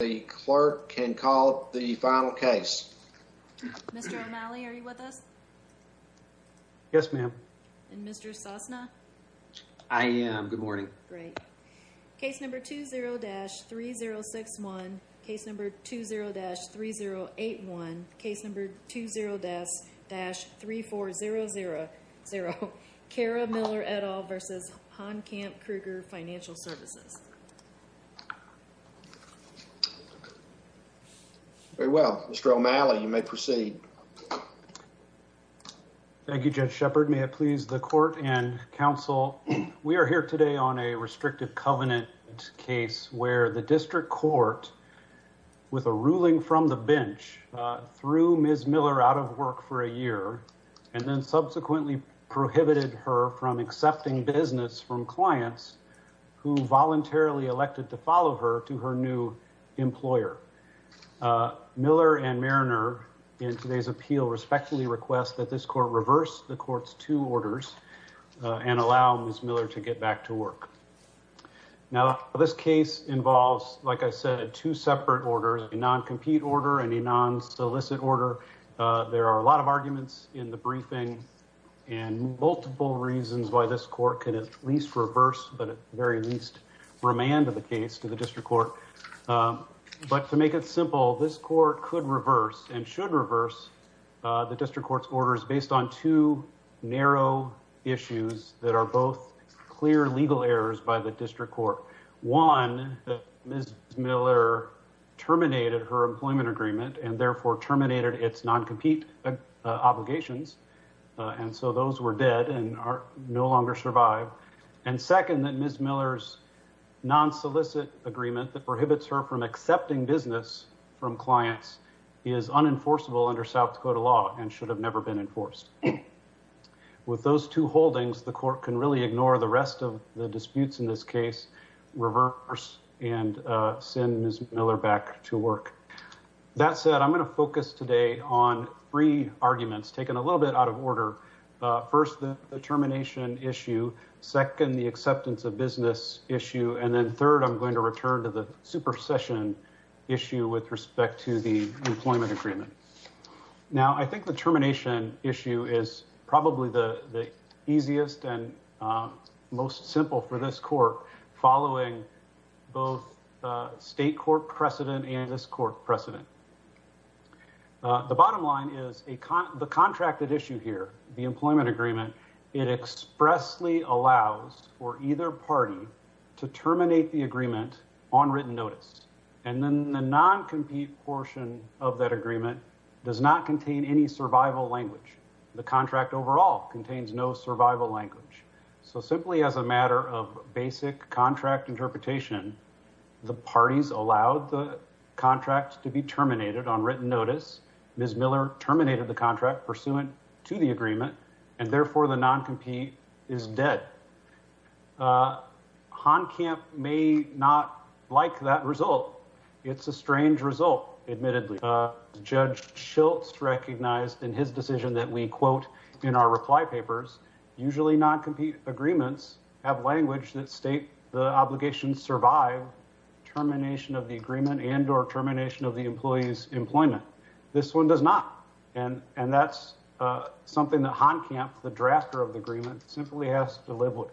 The clerk can call the final case. Mr. O'Malley, are you with us? Yes, ma'am. And Mr. Sosna? I am. Good morning. Great. Case number 20-3061. Case number 20-3081. Case number 20-3400. Kara Miller et al. versus Honkamp Krueger Financial Services. Very well. Mr. O'Malley, you may proceed. Thank you, Judge Shepard. May it please the court and counsel. We are here today on a restrictive covenant case where the district court, with a ruling from the bench, threw Ms. Miller out of from accepting business from clients who voluntarily elected to follow her to her new employer. Miller and Mariner, in today's appeal, respectfully request that this court reverse the court's two orders and allow Ms. Miller to get back to work. Now, this case involves, like I said, two separate orders, a non-compete order and a multiple reasons why this court could at least reverse, but at the very least, remand the case to the district court. But to make it simple, this court could reverse and should reverse the district court's orders based on two narrow issues that are both clear legal errors by the district court. One, Ms. Miller terminated her employment agreement and therefore terminated its non-compete obligations, and so those were dead and no longer survive. And second, that Ms. Miller's non-solicit agreement that prohibits her from accepting business from clients is unenforceable under South Dakota law and should have never been enforced. With those two holdings, the court can really ignore the rest of the disputes in this case, reverse, and send Ms. Miller back to work. That said, I'm going to focus today on three arguments taken a little bit out of order. First, the termination issue. Second, the acceptance of business issue. And then third, I'm going to return to the supersession issue with respect to the employment agreement. Now, I think the termination issue is probably the easiest and most simple for this court following both state court precedent and this court precedent. The bottom line is the contracted issue here, the employment agreement, it expressly allows for either party to terminate the agreement on written notice. And then the non-compete portion of that agreement does not contain any survival language. The contract overall contains no survival language. So simply as a matter of basic contract interpretation, the parties allowed the contract to be terminated on written notice. Ms. Miller terminated the contract pursuant to the agreement, and therefore the non-compete is dead. Honkamp may not like that result. It's a strange result, admittedly. Judge Schultz recognized in his decision that we quote in our flypapers, usually non-compete agreements have language that state the obligation to survive termination of the agreement and or termination of the employee's employment. This one does not. And that's something that Honkamp, the drafter of the agreement, simply has to live with.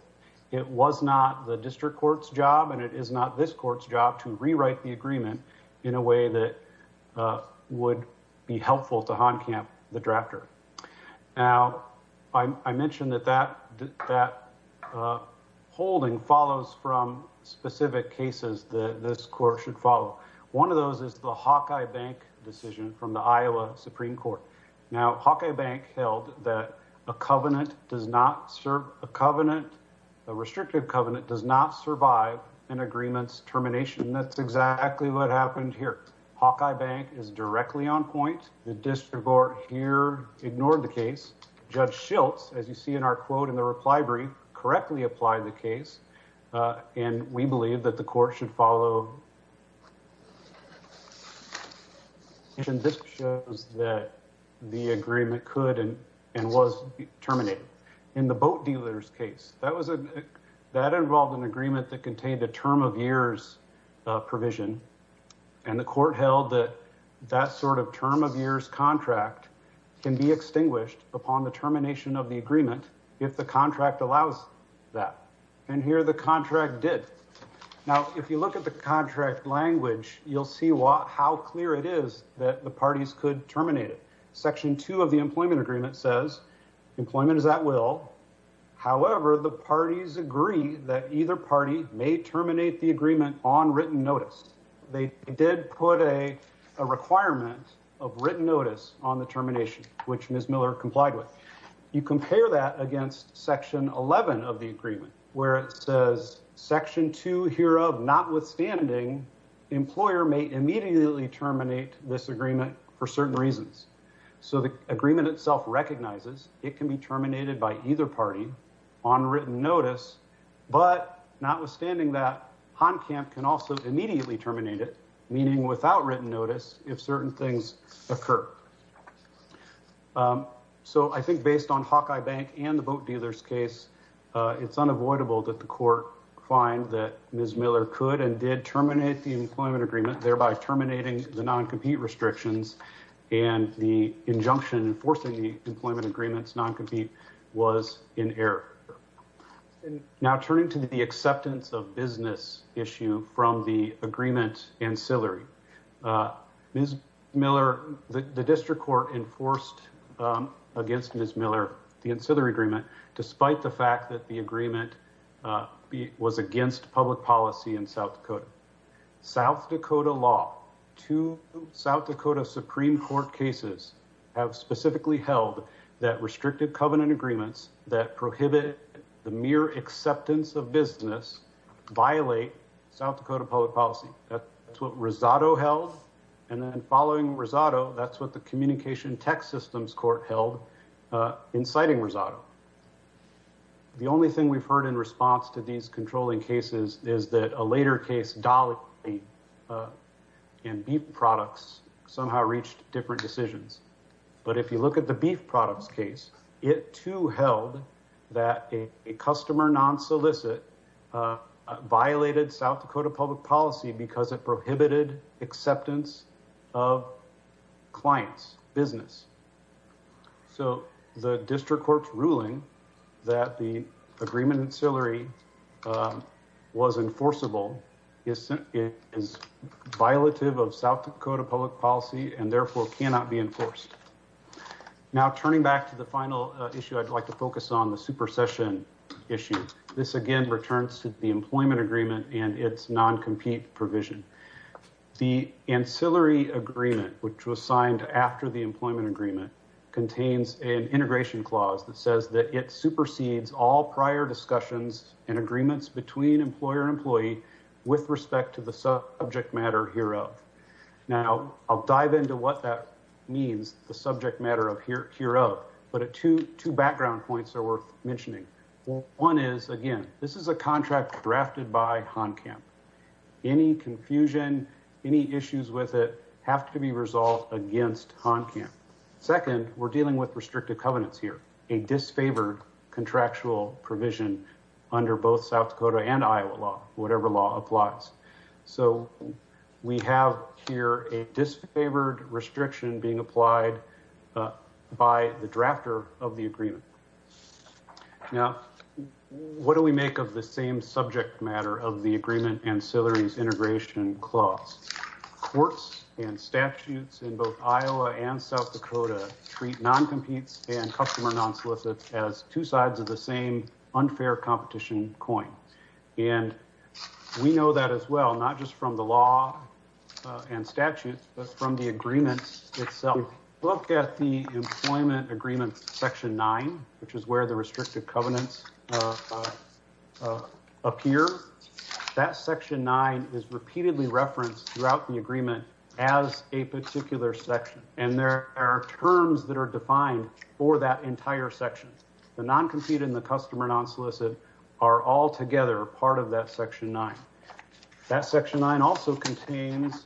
It was not the district court's job and it is not this court's job to rewrite the agreement in a way that would be helpful to Honkamp, the drafter. Now, I mentioned that that holding follows from specific cases that this court should follow. One of those is the Hawkeye Bank decision from the Iowa Supreme Court. Now, Hawkeye Bank held that a covenant does not serve, a covenant, a restrictive covenant does not survive an agreement's termination. That's exactly what happened here. Hawkeye Bank is directly on point. The district court here ignored the case. Judge Schultz, as you see in our quote in the reply brief, correctly applied the case. And we believe that the court should follow. And this shows that the agreement could and was terminated. In the boat dealers case, that involved an agreement that contained a term of years provision. And the court held that that sort of term of years contract can be extinguished upon the termination of the agreement if the contract allows that. And here the contract did. Now, if you look at the contract language, you'll see how clear it is that the parties could terminate it. Section two of the parties agree that either party may terminate the agreement on written notice. They did put a requirement of written notice on the termination, which Ms. Miller complied with. You compare that against section 11 of the agreement, where it says section two here of notwithstanding, employer may immediately terminate this agreement for certain reasons. So the agreement itself recognizes it can be terminated by either party on written notice, but notwithstanding that Han camp can also immediately terminate it, meaning without written notice, if certain things occur. So I think based on Hawkeye bank and the boat dealers case, it's unavoidable that the court find that Ms. Miller could and did terminate the employment agreement, thereby terminating the non-compete restrictions and the injunction enforcing the employment agreements non-compete was in error. And now turning to the acceptance of business issue from the agreement ancillary, Ms. Miller, the district court enforced against Ms. Miller, the ancillary agreement, despite the fact that the agreement was against public policy in South Dakota. South Dakota law to South Dakota Supreme court cases have specifically held that restricted covenant agreements that prohibit the mere acceptance of business violate South Dakota public policy. That's what Rosado health. And then following Rosado, that's what the communication tech systems court held inciting Rosado. The only thing we've heard in response to these controlling cases is that a later case dolly in beef products somehow reached different decisions. But if you look at the beef products case, it too held that a customer non-solicit violated South Dakota public policy because it prohibited acceptance of clients business. So the district court's ruling that the agreement ancillary was enforceable is violative of South Dakota public policy and therefore cannot be enforced. Now, turning back to the final issue, I'd like to focus on the super session issue. This again returns to the employment agreement and it's non-compete provision. The ancillary agreement, which was signed after the employment agreement, contains an integration clause that says that it supersedes all prior discussions and agreements between employer and employee with respect to the subject matter hereof. Now, I'll dive into what that means, the subject matter of hereof, but two background points are mentioning. One is again, this is a contract drafted by Han camp. Any confusion, any issues with it have to be resolved against Han camp. Second, we're dealing with restrictive covenants here, a disfavored contractual provision under both South Dakota and Iowa law, whatever law applies. So we have here a disfavored restriction being applied by the drafter of the agreement. Now, what do we make of the same subject matter of the agreement and ancillary's integration clause? Courts and statutes in both Iowa and South Dakota treat non-competes and customer non-solicits as two sides of the same unfair competition coin. And we know that as well, not just from the law and statutes, but from the agreement itself. Look at the employment agreement section nine, which is where the restricted covenants appear. That section nine is repeatedly referenced throughout the agreement as a particular section. And there are terms that are defined for that entire section. The non-compete and the customer non-solicit are all together part of that section nine. That section nine also contains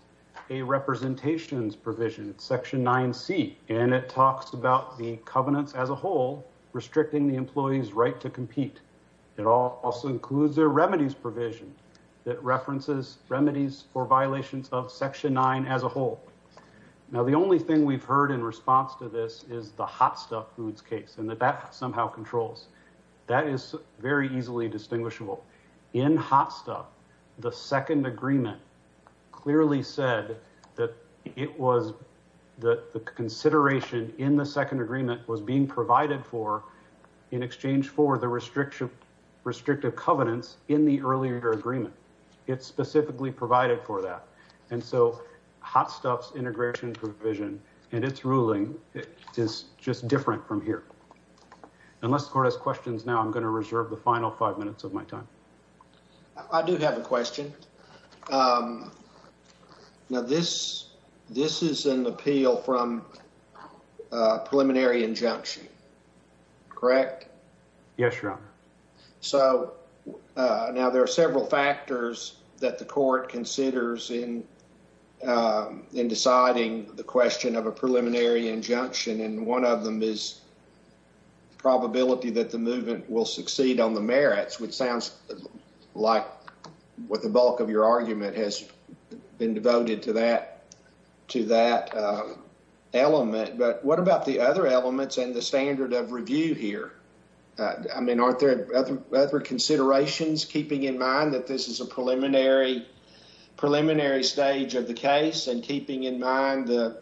a representations provision, section nine C, and it talks about the covenants as a whole, restricting the employee's right to compete. It also includes their remedies provision that references remedies for violations of section nine as a whole. Now, the only thing we've heard in response to this is the Hot Stuff Foods case, and that that somehow controls. That is very easily distinguishable. In Hot Stuff, the second consideration in the second agreement was being provided for in exchange for the restrictive covenants in the earlier agreement. It's specifically provided for that. And so, Hot Stuff's integration provision and its ruling is just different from here. Unless the court has questions now, I'm going to reserve the final five minutes of my time. I do have a question. Now, this is an appeal from a preliminary injunction, correct? Yes, Your Honor. So, now there are several factors that the court considers in deciding the question of a preliminary injunction, and one of them is probability that the movement will succeed on the merits, which sounds like what the bulk of your argument has been devoted to that element. But what about the other elements and the standard of review here? I mean, aren't there other considerations keeping in mind that this is a preliminary stage of the case and keeping in mind the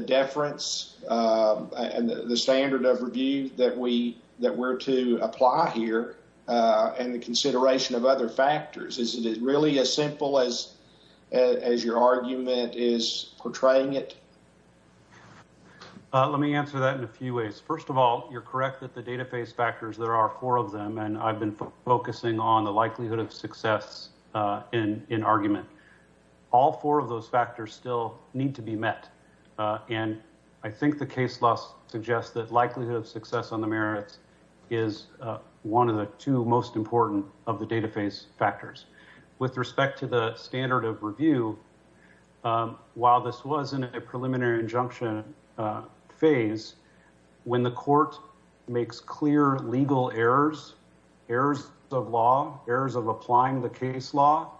deference and the standard of review that we're to apply here and the consideration of other factors? Is it really as simple as your argument is portraying it? Let me answer that in a few ways. First of all, you're correct that the database factors, there are four of them, and I've been focusing on the likelihood of success in argument. All four of those factors still need to be met, and I think the case law suggests that likelihood of success on the merits is one of the two most important of the database factors. With respect to the standard of review, while this was in a preliminary injunction phase, when the court makes clear legal errors, errors of law, errors of applying the case law,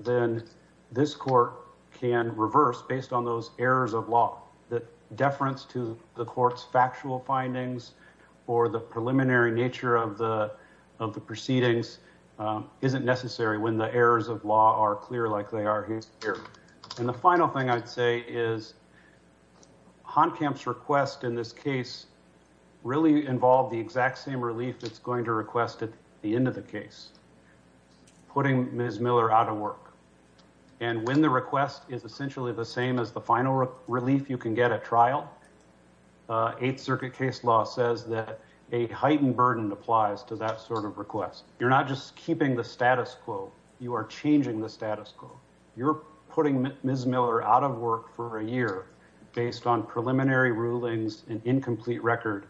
then this court can reverse based on those errors of law. The deference to the court's factual findings or the preliminary nature of the proceedings isn't necessary when the errors of law are clear like they are here. And the final thing I'd say is, Honkamp's request in this case really involved the exact same relief it's going to request at the end of the case, putting Ms. Miller out of work. And when the request is essentially the same as the final relief you can get at trial, Eighth Circuit case law says that a heightened status quo. You're putting Ms. Miller out of work for a year based on preliminary rulings, an incomplete record,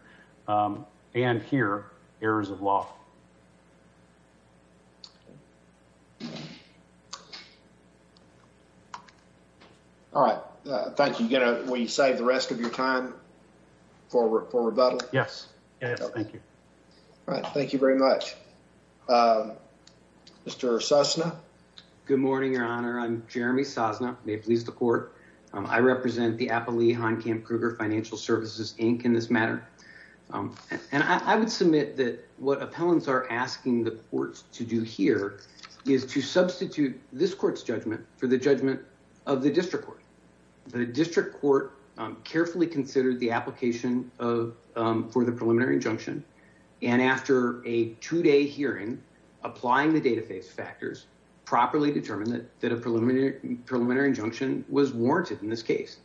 and here, errors of law. All right. Thank you. Will you save the rest of your time for rebuttal? Yes. Yes. Thank you. All right. Thank you very much. Mr. Sosna. Good morning, Your Honor. I'm Jeremy Sosna. May it please the court. I represent the Appalachian Honkamp Kruger Financial Services, Inc. in this matter. And I would submit that what appellants are asking the courts to do here is to substitute this court's judgment for the judgment of the district court. The district court carefully considered the application for the preliminary injunction, and after a two-day hearing, applying the dataface factors, properly determined that a preliminary injunction was warranted in this case.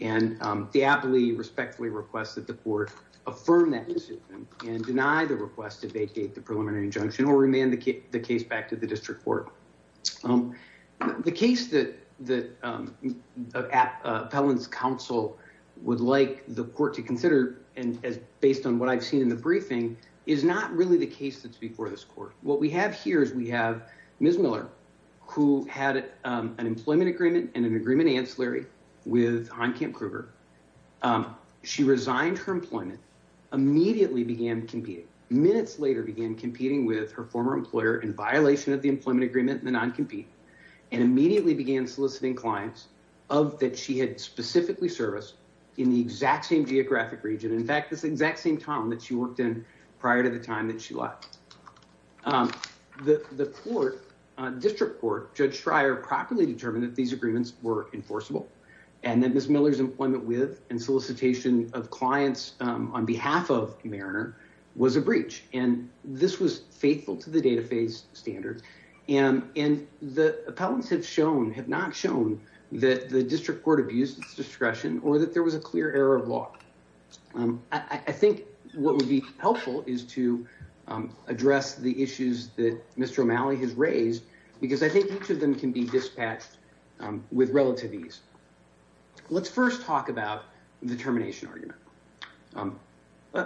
And the aptly respectfully request that the court affirm that decision and deny the request to vacate the preliminary injunction or remand the case back to the district court. The case that the appellant's counsel would like the court to in the briefing is not really the case that's before this court. What we have here is we have Ms. Miller, who had an employment agreement and an agreement ancillary with Honkamp Kruger. She resigned her employment, immediately began competing, minutes later began competing with her former employer in violation of the employment agreement and the non-compete, and immediately began soliciting clients that she had specifically serviced in the exact same prior to the time that she left. The district court, Judge Schreier, properly determined that these agreements were enforceable, and that Ms. Miller's employment with and solicitation of clients on behalf of Mariner was a breach, and this was faithful to the dataface standards. And the appellants have not shown that the district court abused its discretion or that was a clear error of law. I think what would be helpful is to address the issues that Mr. O'Malley has raised, because I think each of them can be dispatched with relative ease. Let's first talk about the termination argument.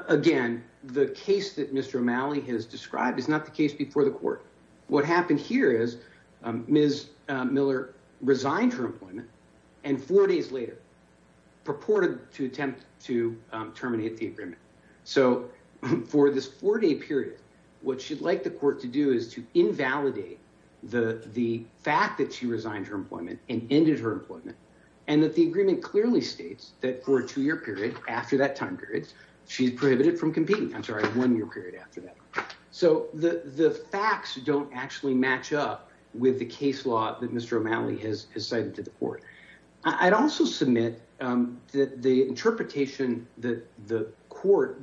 Again, the case that Mr. O'Malley has described is not the case before the court. What happened here is Ms. Miller resigned her employment, and four days later, purported to attempt to terminate the agreement. So for this four-day period, what she'd like the court to do is to invalidate the fact that she resigned her employment and ended her employment, and that the agreement clearly states that for a two-year period after that time period, she's prohibited from competing. I'm sorry, one year period after that. So the facts don't actually match up with the case law that Mr. O'Malley has cited to the court. I'd also submit that the interpretation that the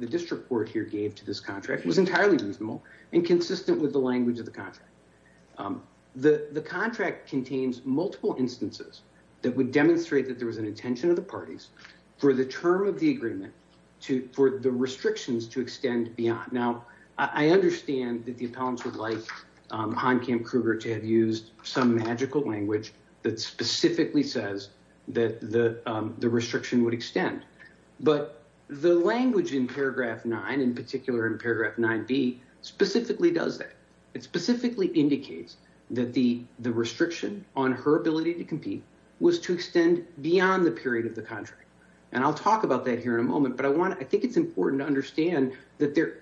district court here gave to this contract was entirely reasonable and consistent with the language of the contract. The contract contains multiple instances that would demonstrate that there was an intention of the parties for the term of the agreement, for the to have used some magical language that specifically says that the restriction would extend. But the language in paragraph 9, in particular in paragraph 9b, specifically does that. It specifically indicates that the restriction on her ability to compete was to extend beyond the period of the contract. And I'll talk about that here in a moment, but I think it's important to understand that there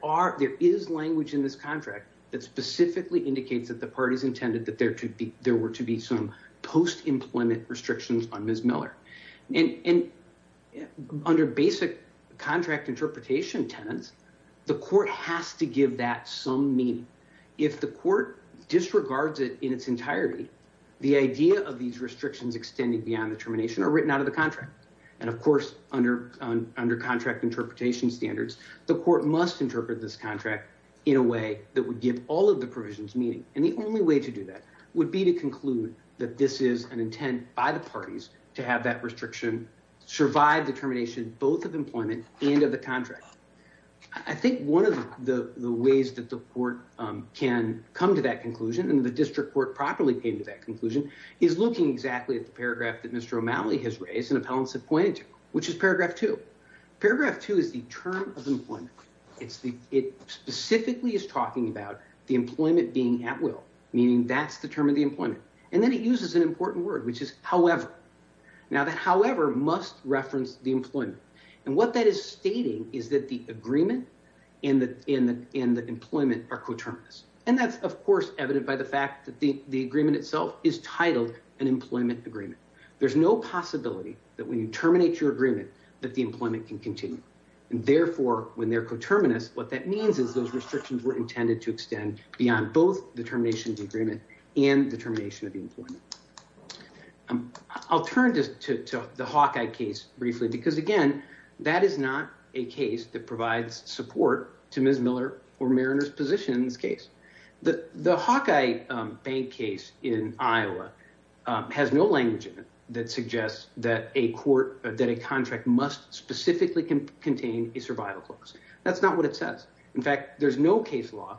is language in this contract that specifically indicates that the intended that there were to be some post-employment restrictions on Ms. Miller. And under basic contract interpretation tenets, the court has to give that some meaning. If the court disregards it in its entirety, the idea of these restrictions extending beyond the termination are written out of the contract. And of course, under contract interpretation standards, the court must interpret this contract in a way that would give all of the provisions meaning. And the only way to do that would be to conclude that this is an intent by the parties to have that restriction survive the termination both of employment and of the contract. I think one of the ways that the court can come to that conclusion, and the district court properly came to that conclusion, is looking exactly at the paragraph that Mr. O'Malley has raised and appellants have pointed to, which is paragraph 2. Paragraph 2 is the term of employment. It specifically is about the employment being at will, meaning that's the term of the employment. And then it uses an important word, which is however. Now that however must reference the employment. And what that is stating is that the agreement and the employment are coterminous. And that's, of course, evident by the fact that the agreement itself is titled an employment agreement. There's no possibility that when you terminate your agreement, that the employment can continue. And therefore, when they're coterminous, what that means is those restrictions were intended to extend beyond both the termination of the agreement and the termination of the employment. I'll turn just to the Hawkeye case briefly, because again, that is not a case that provides support to Ms. Miller or Mariner's position in this case. The Hawkeye bank case in Iowa has no language in it that suggests that a contract must specifically contain a survival clause. That's not what it says. In fact, there's no case law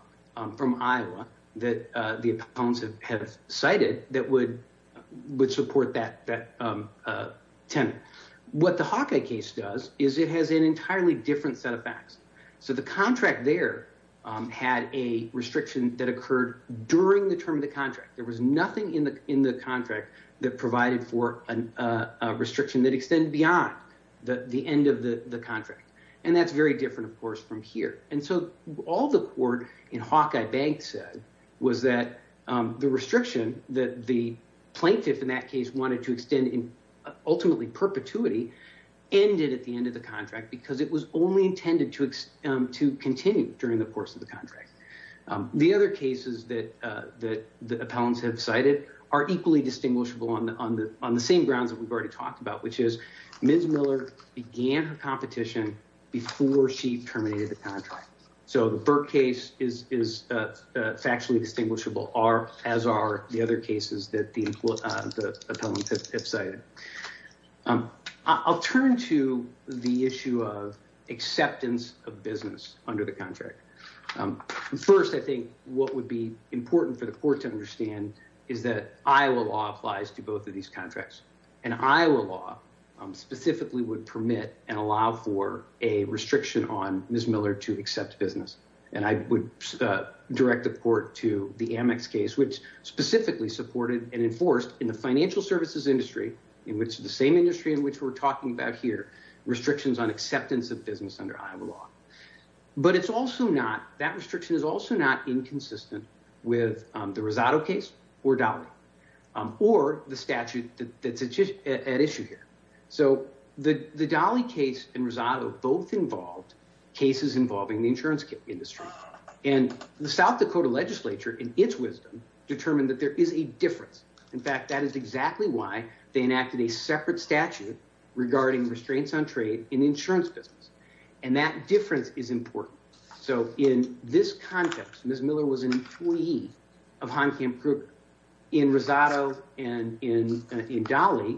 from Iowa that the appellants have cited that would support that tenet. What the Hawkeye case does is it has an entirely different set of facts. So the contract there had a restriction that occurred during the term of the contract. There was nothing in the contract that provided for a restriction that extended beyond the end of the contract. And that's very different, of course, from here. And so all the court in Hawkeye bank said was that the restriction that the plaintiff in that case wanted to extend in ultimately perpetuity ended at the end of the contract because it was only appellants have cited are equally distinguishable on the same grounds that we've already talked about, which is Ms. Miller began her competition before she terminated the contract. So the Burke case is factually distinguishable as are the other cases that the appellants have cited. I'll turn to the issue of acceptance of business under the contract. First, I think what would be is that Iowa law applies to both of these contracts. And Iowa law specifically would permit and allow for a restriction on Ms. Miller to accept business. And I would direct the court to the Amex case, which specifically supported and enforced in the financial services industry, in which the same industry in which we're talking about here, restrictions on acceptance of business under Iowa law. But that restriction is also not inconsistent with the Rosado case or Dolly or the statute that's at issue here. So the Dolly case and Rosado both involved cases involving the insurance industry and the South Dakota legislature in its wisdom determined that there is a difference. In fact, that is exactly why they enacted a separate statute regarding restraints on trade in the insurance business. And that difference is important. So in this context, Ms. Miller was an employee of Heimkamp Kruger. In Rosado and in Dolly,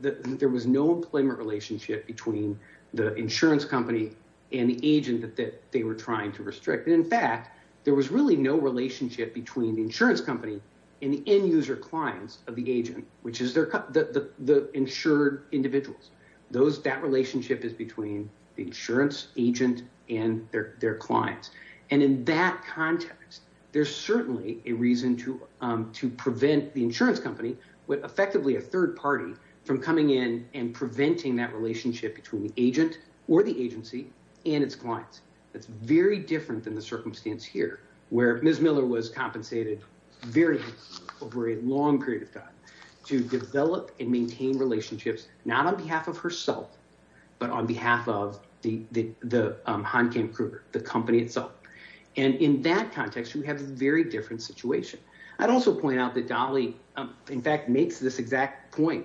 there was no employment relationship between the insurance company and the agent that they were trying to restrict. And in fact, there was really no relationship between the insurance company and the end user clients of the agent, which is the insured individuals. That relationship is between the insurance agent and their clients. And in that context, there's certainly a reason to prevent the insurance company, effectively a third party, from coming in and preventing that relationship between the agent or the agency and its clients. It's very different than the circumstance here where Ms. Miller was compensated very over a long period of time to develop and maintain relationships, not on behalf of herself, but on behalf of the Heimkamp Kruger, the company itself. And in that context, we have a very different situation. I'd also point out that Dolly, in fact, makes this exact point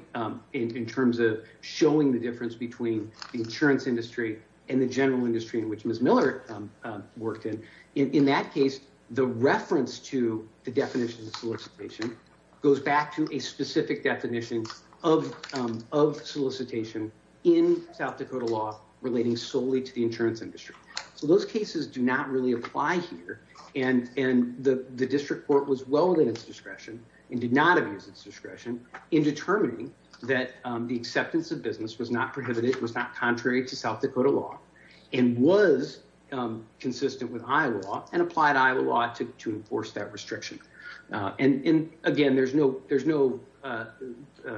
in terms of showing the difference between the insurance industry and the general industry in which Ms. Miller worked in. In that case, the reference to the definition of solicitation goes back to a specific definition of solicitation in South Dakota law relating solely to the insurance industry. So those cases do not really apply here. And the district court was well within its discretion and did not abuse its discretion in determining that the acceptance of business was not prohibited, was not contrary to South Dakota law, and was consistent with Iowa law and applied Iowa law to enforce that restriction. And again, there's no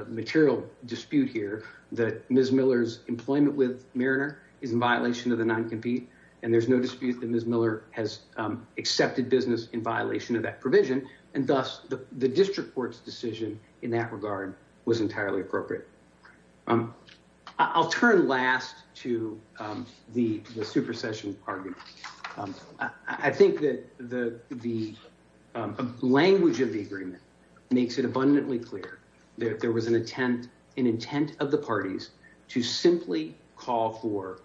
material dispute here that Ms. Miller's employment with Mariner is in violation of the non-compete, and there's no dispute that Ms. Miller has accepted business in violation of that provision. And thus, the district court's decision in that regard was entirely appropriate. I'll turn last to the supersession argument. I think that the language of the agreement makes it abundantly clear that there was an intent of the parties to simply call for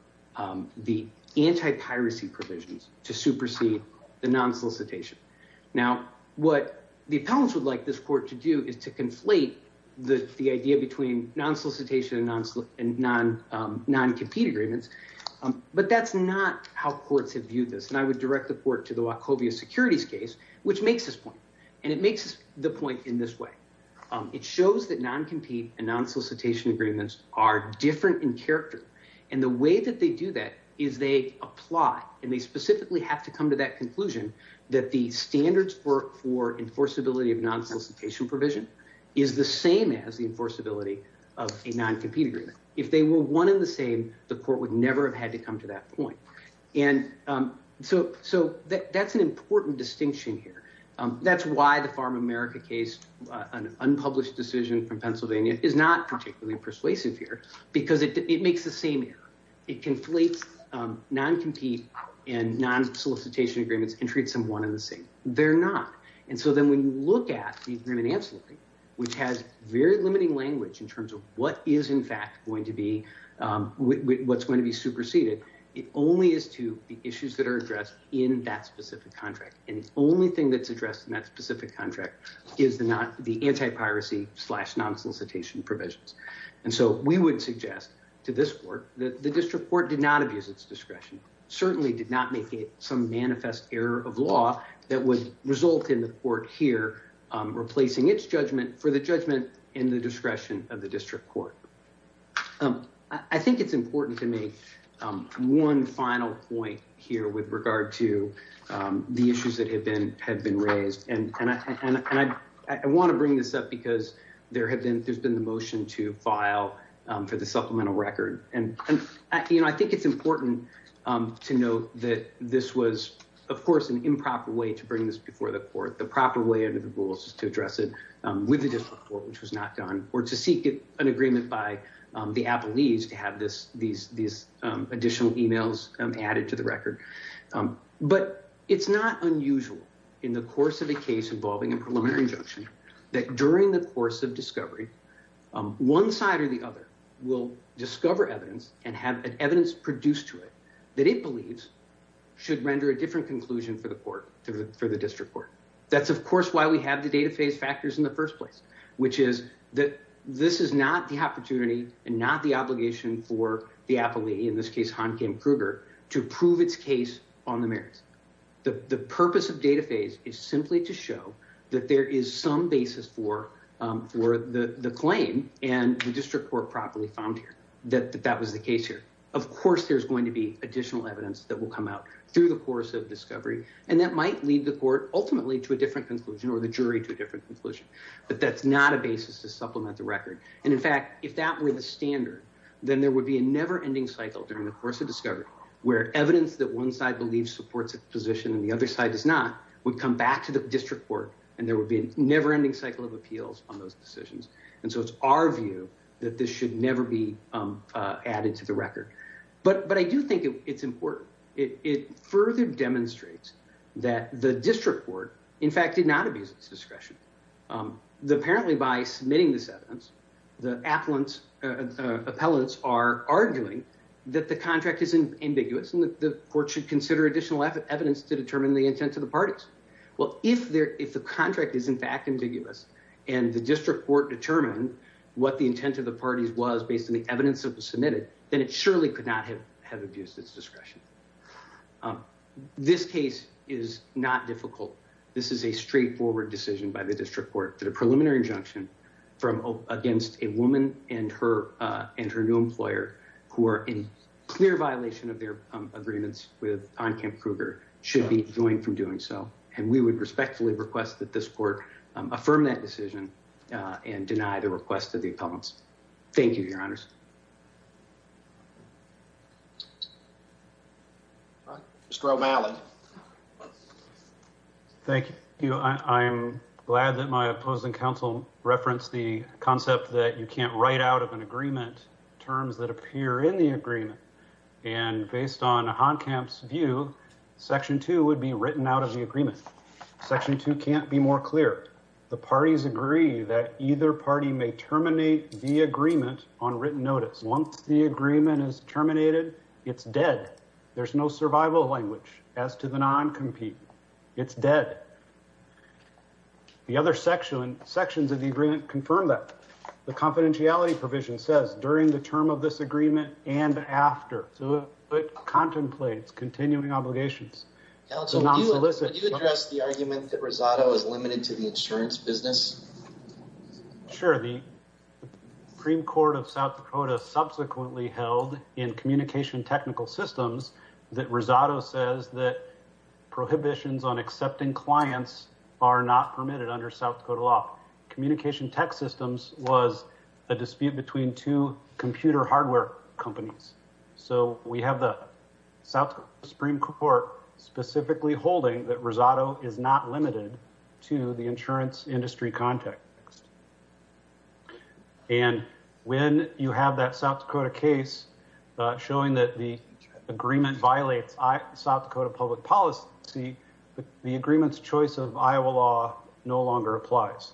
the anti-piracy provisions to supersede the non-solicitation. Now, what the appellants would like this court to do is to conflate the idea between non-solicitation and non-compete agreements, but that's not how courts have viewed this. And I would direct the court to the Wachovia Securities case, which makes this point. And it makes the point in this way. It shows that non-compete and non-solicitation agreements are different in character. And the way that they do that is they apply, and they specifically have to come to that conclusion that the standards for enforceability of non-solicitation provision is the same as the enforceability of a non-compete agreement. If they were one and the same, the court would never have had to come to that point. And so that's an important distinction here. That's why the Farm America case, an unpublished decision from Pennsylvania, is not particularly persuasive here, because it makes the same error. It conflates non-compete and non-solicitation agreements and treats them one and the same. They're not. And so then when you look at the agreement in Ancillary, which has very limiting language in terms of what is in fact going to be, what's going to be superseded, it only is to the issues that are addressed in that specific contract. And the only thing that's the anti-piracy slash non-solicitation provisions. And so we would suggest to this court that the district court did not abuse its discretion, certainly did not make it some manifest error of law that would result in the court here replacing its judgment for the judgment in the discretion of the district court. I think it's important to make one final point here with regard to the issues that have been raised. And I want to bring this up because there's been the motion to file for the supplemental record. And I think it's important to note that this was, of course, an improper way to bring this before the court. The proper way under the rules is to address it with the district court, which was not done, or to seek an agreement by the Appalachians to have these additional emails added to the record. But it's not unusual in the course of a case involving a preliminary injunction that during the course of discovery, one side or the other will discover evidence and have an evidence produced to it that it believes should render a different conclusion for the court, for the district court. That's, of course, why we have the data phase factors in the first place, which is that this is not the opportunity and not the opportunity for the appellee, in this case, Han Kim Kruger, to prove its case on the merits. The purpose of data phase is simply to show that there is some basis for the claim and the district court properly found here that that was the case here. Of course, there's going to be additional evidence that will come out through the course of discovery, and that might lead the court ultimately to a different conclusion or the jury to a different conclusion. But that's not a basis to supplement the record. And in fact, if that were the standard, then there would be a never-ending cycle during the course of discovery where evidence that one side believes supports its position and the other side does not would come back to the district court, and there would be a never-ending cycle of appeals on those decisions. And so it's our view that this should never be added to the record. But I do think it's important. It further demonstrates that the district court, in fact, did not abuse its discretion. Apparently, by submitting this evidence, the appellants are arguing that the contract is ambiguous and the court should consider additional evidence to determine the intent of the parties. Well, if the contract is in fact ambiguous and the district court determined what the intent of the parties was based on the evidence that was submitted, then it surely could not have abused its discretion. This case is not difficult. This is a straightforward decision by the district court that a preliminary injunction against a woman and her new employer who are in clear violation of their agreements with Ancamp-Kruger should be joined from doing so. And we would respectfully request that this court affirm that decision and deny the request of the appellants. Thank you, Your Honors. Mr. O'Malley. Thank you. I'm glad that my opposing counsel referenced the concept that you can't write out of an agreement terms that appear in the agreement. And based on Honkamp's view, Section 2 would be written out of the agreement. Section 2 can't be more clear. The parties agree that either party may terminate the agreement on written notice. Once the agreement is terminated, it's dead. There's no survival language as to the non-compete. It's dead. The other sections of the agreement confirm that. The confidentiality provision says, during the term of this agreement and after. So it contemplates continuing obligations. Could you address the argument that Rosado is limited to the insurance business? Sure. The Supreme Court of South Dakota subsequently held in communication technical systems that Rosado says that prohibitions on accepting clients are not permitted under South Dakota law. Communication tech systems was a dispute between two computer hardware companies. So we have the South Supreme Court specifically holding that Rosado is not limited to the industry context. And when you have that South Dakota case showing that the agreement violates South Dakota public policy, the agreement's choice of Iowa law no longer applies.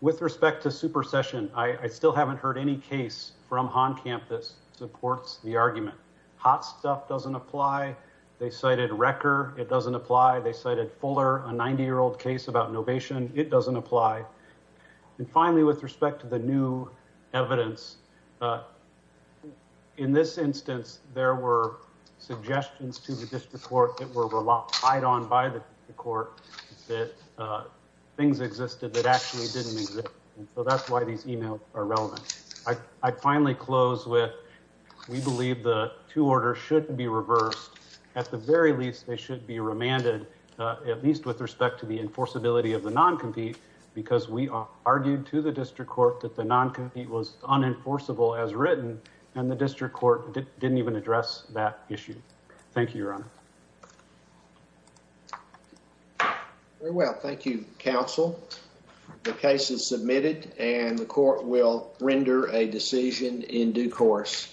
With respect to supersession, I still haven't heard any case from Honkamp that supports the argument. Hot stuff doesn't apply. They cited Recker. It doesn't apply. They cited Fuller, a 90-year-old case about novation. It doesn't apply. And finally, with respect to the new evidence, in this instance, there were suggestions to the district court that were relied on by the court that things existed that actually didn't exist. And so that's why these emails are relevant. I'd finally close with, we believe the two orders should be reversed. At the very least, they should be remanded, at least with respect to the enforceability of the non-compete, because we argued to the district court that the non-compete was unenforceable as written, and the district court didn't even address that issue. Thank you, Your Honor. Very well. Thank you, counsel. The case is submitted, and the court will render a decision in due course.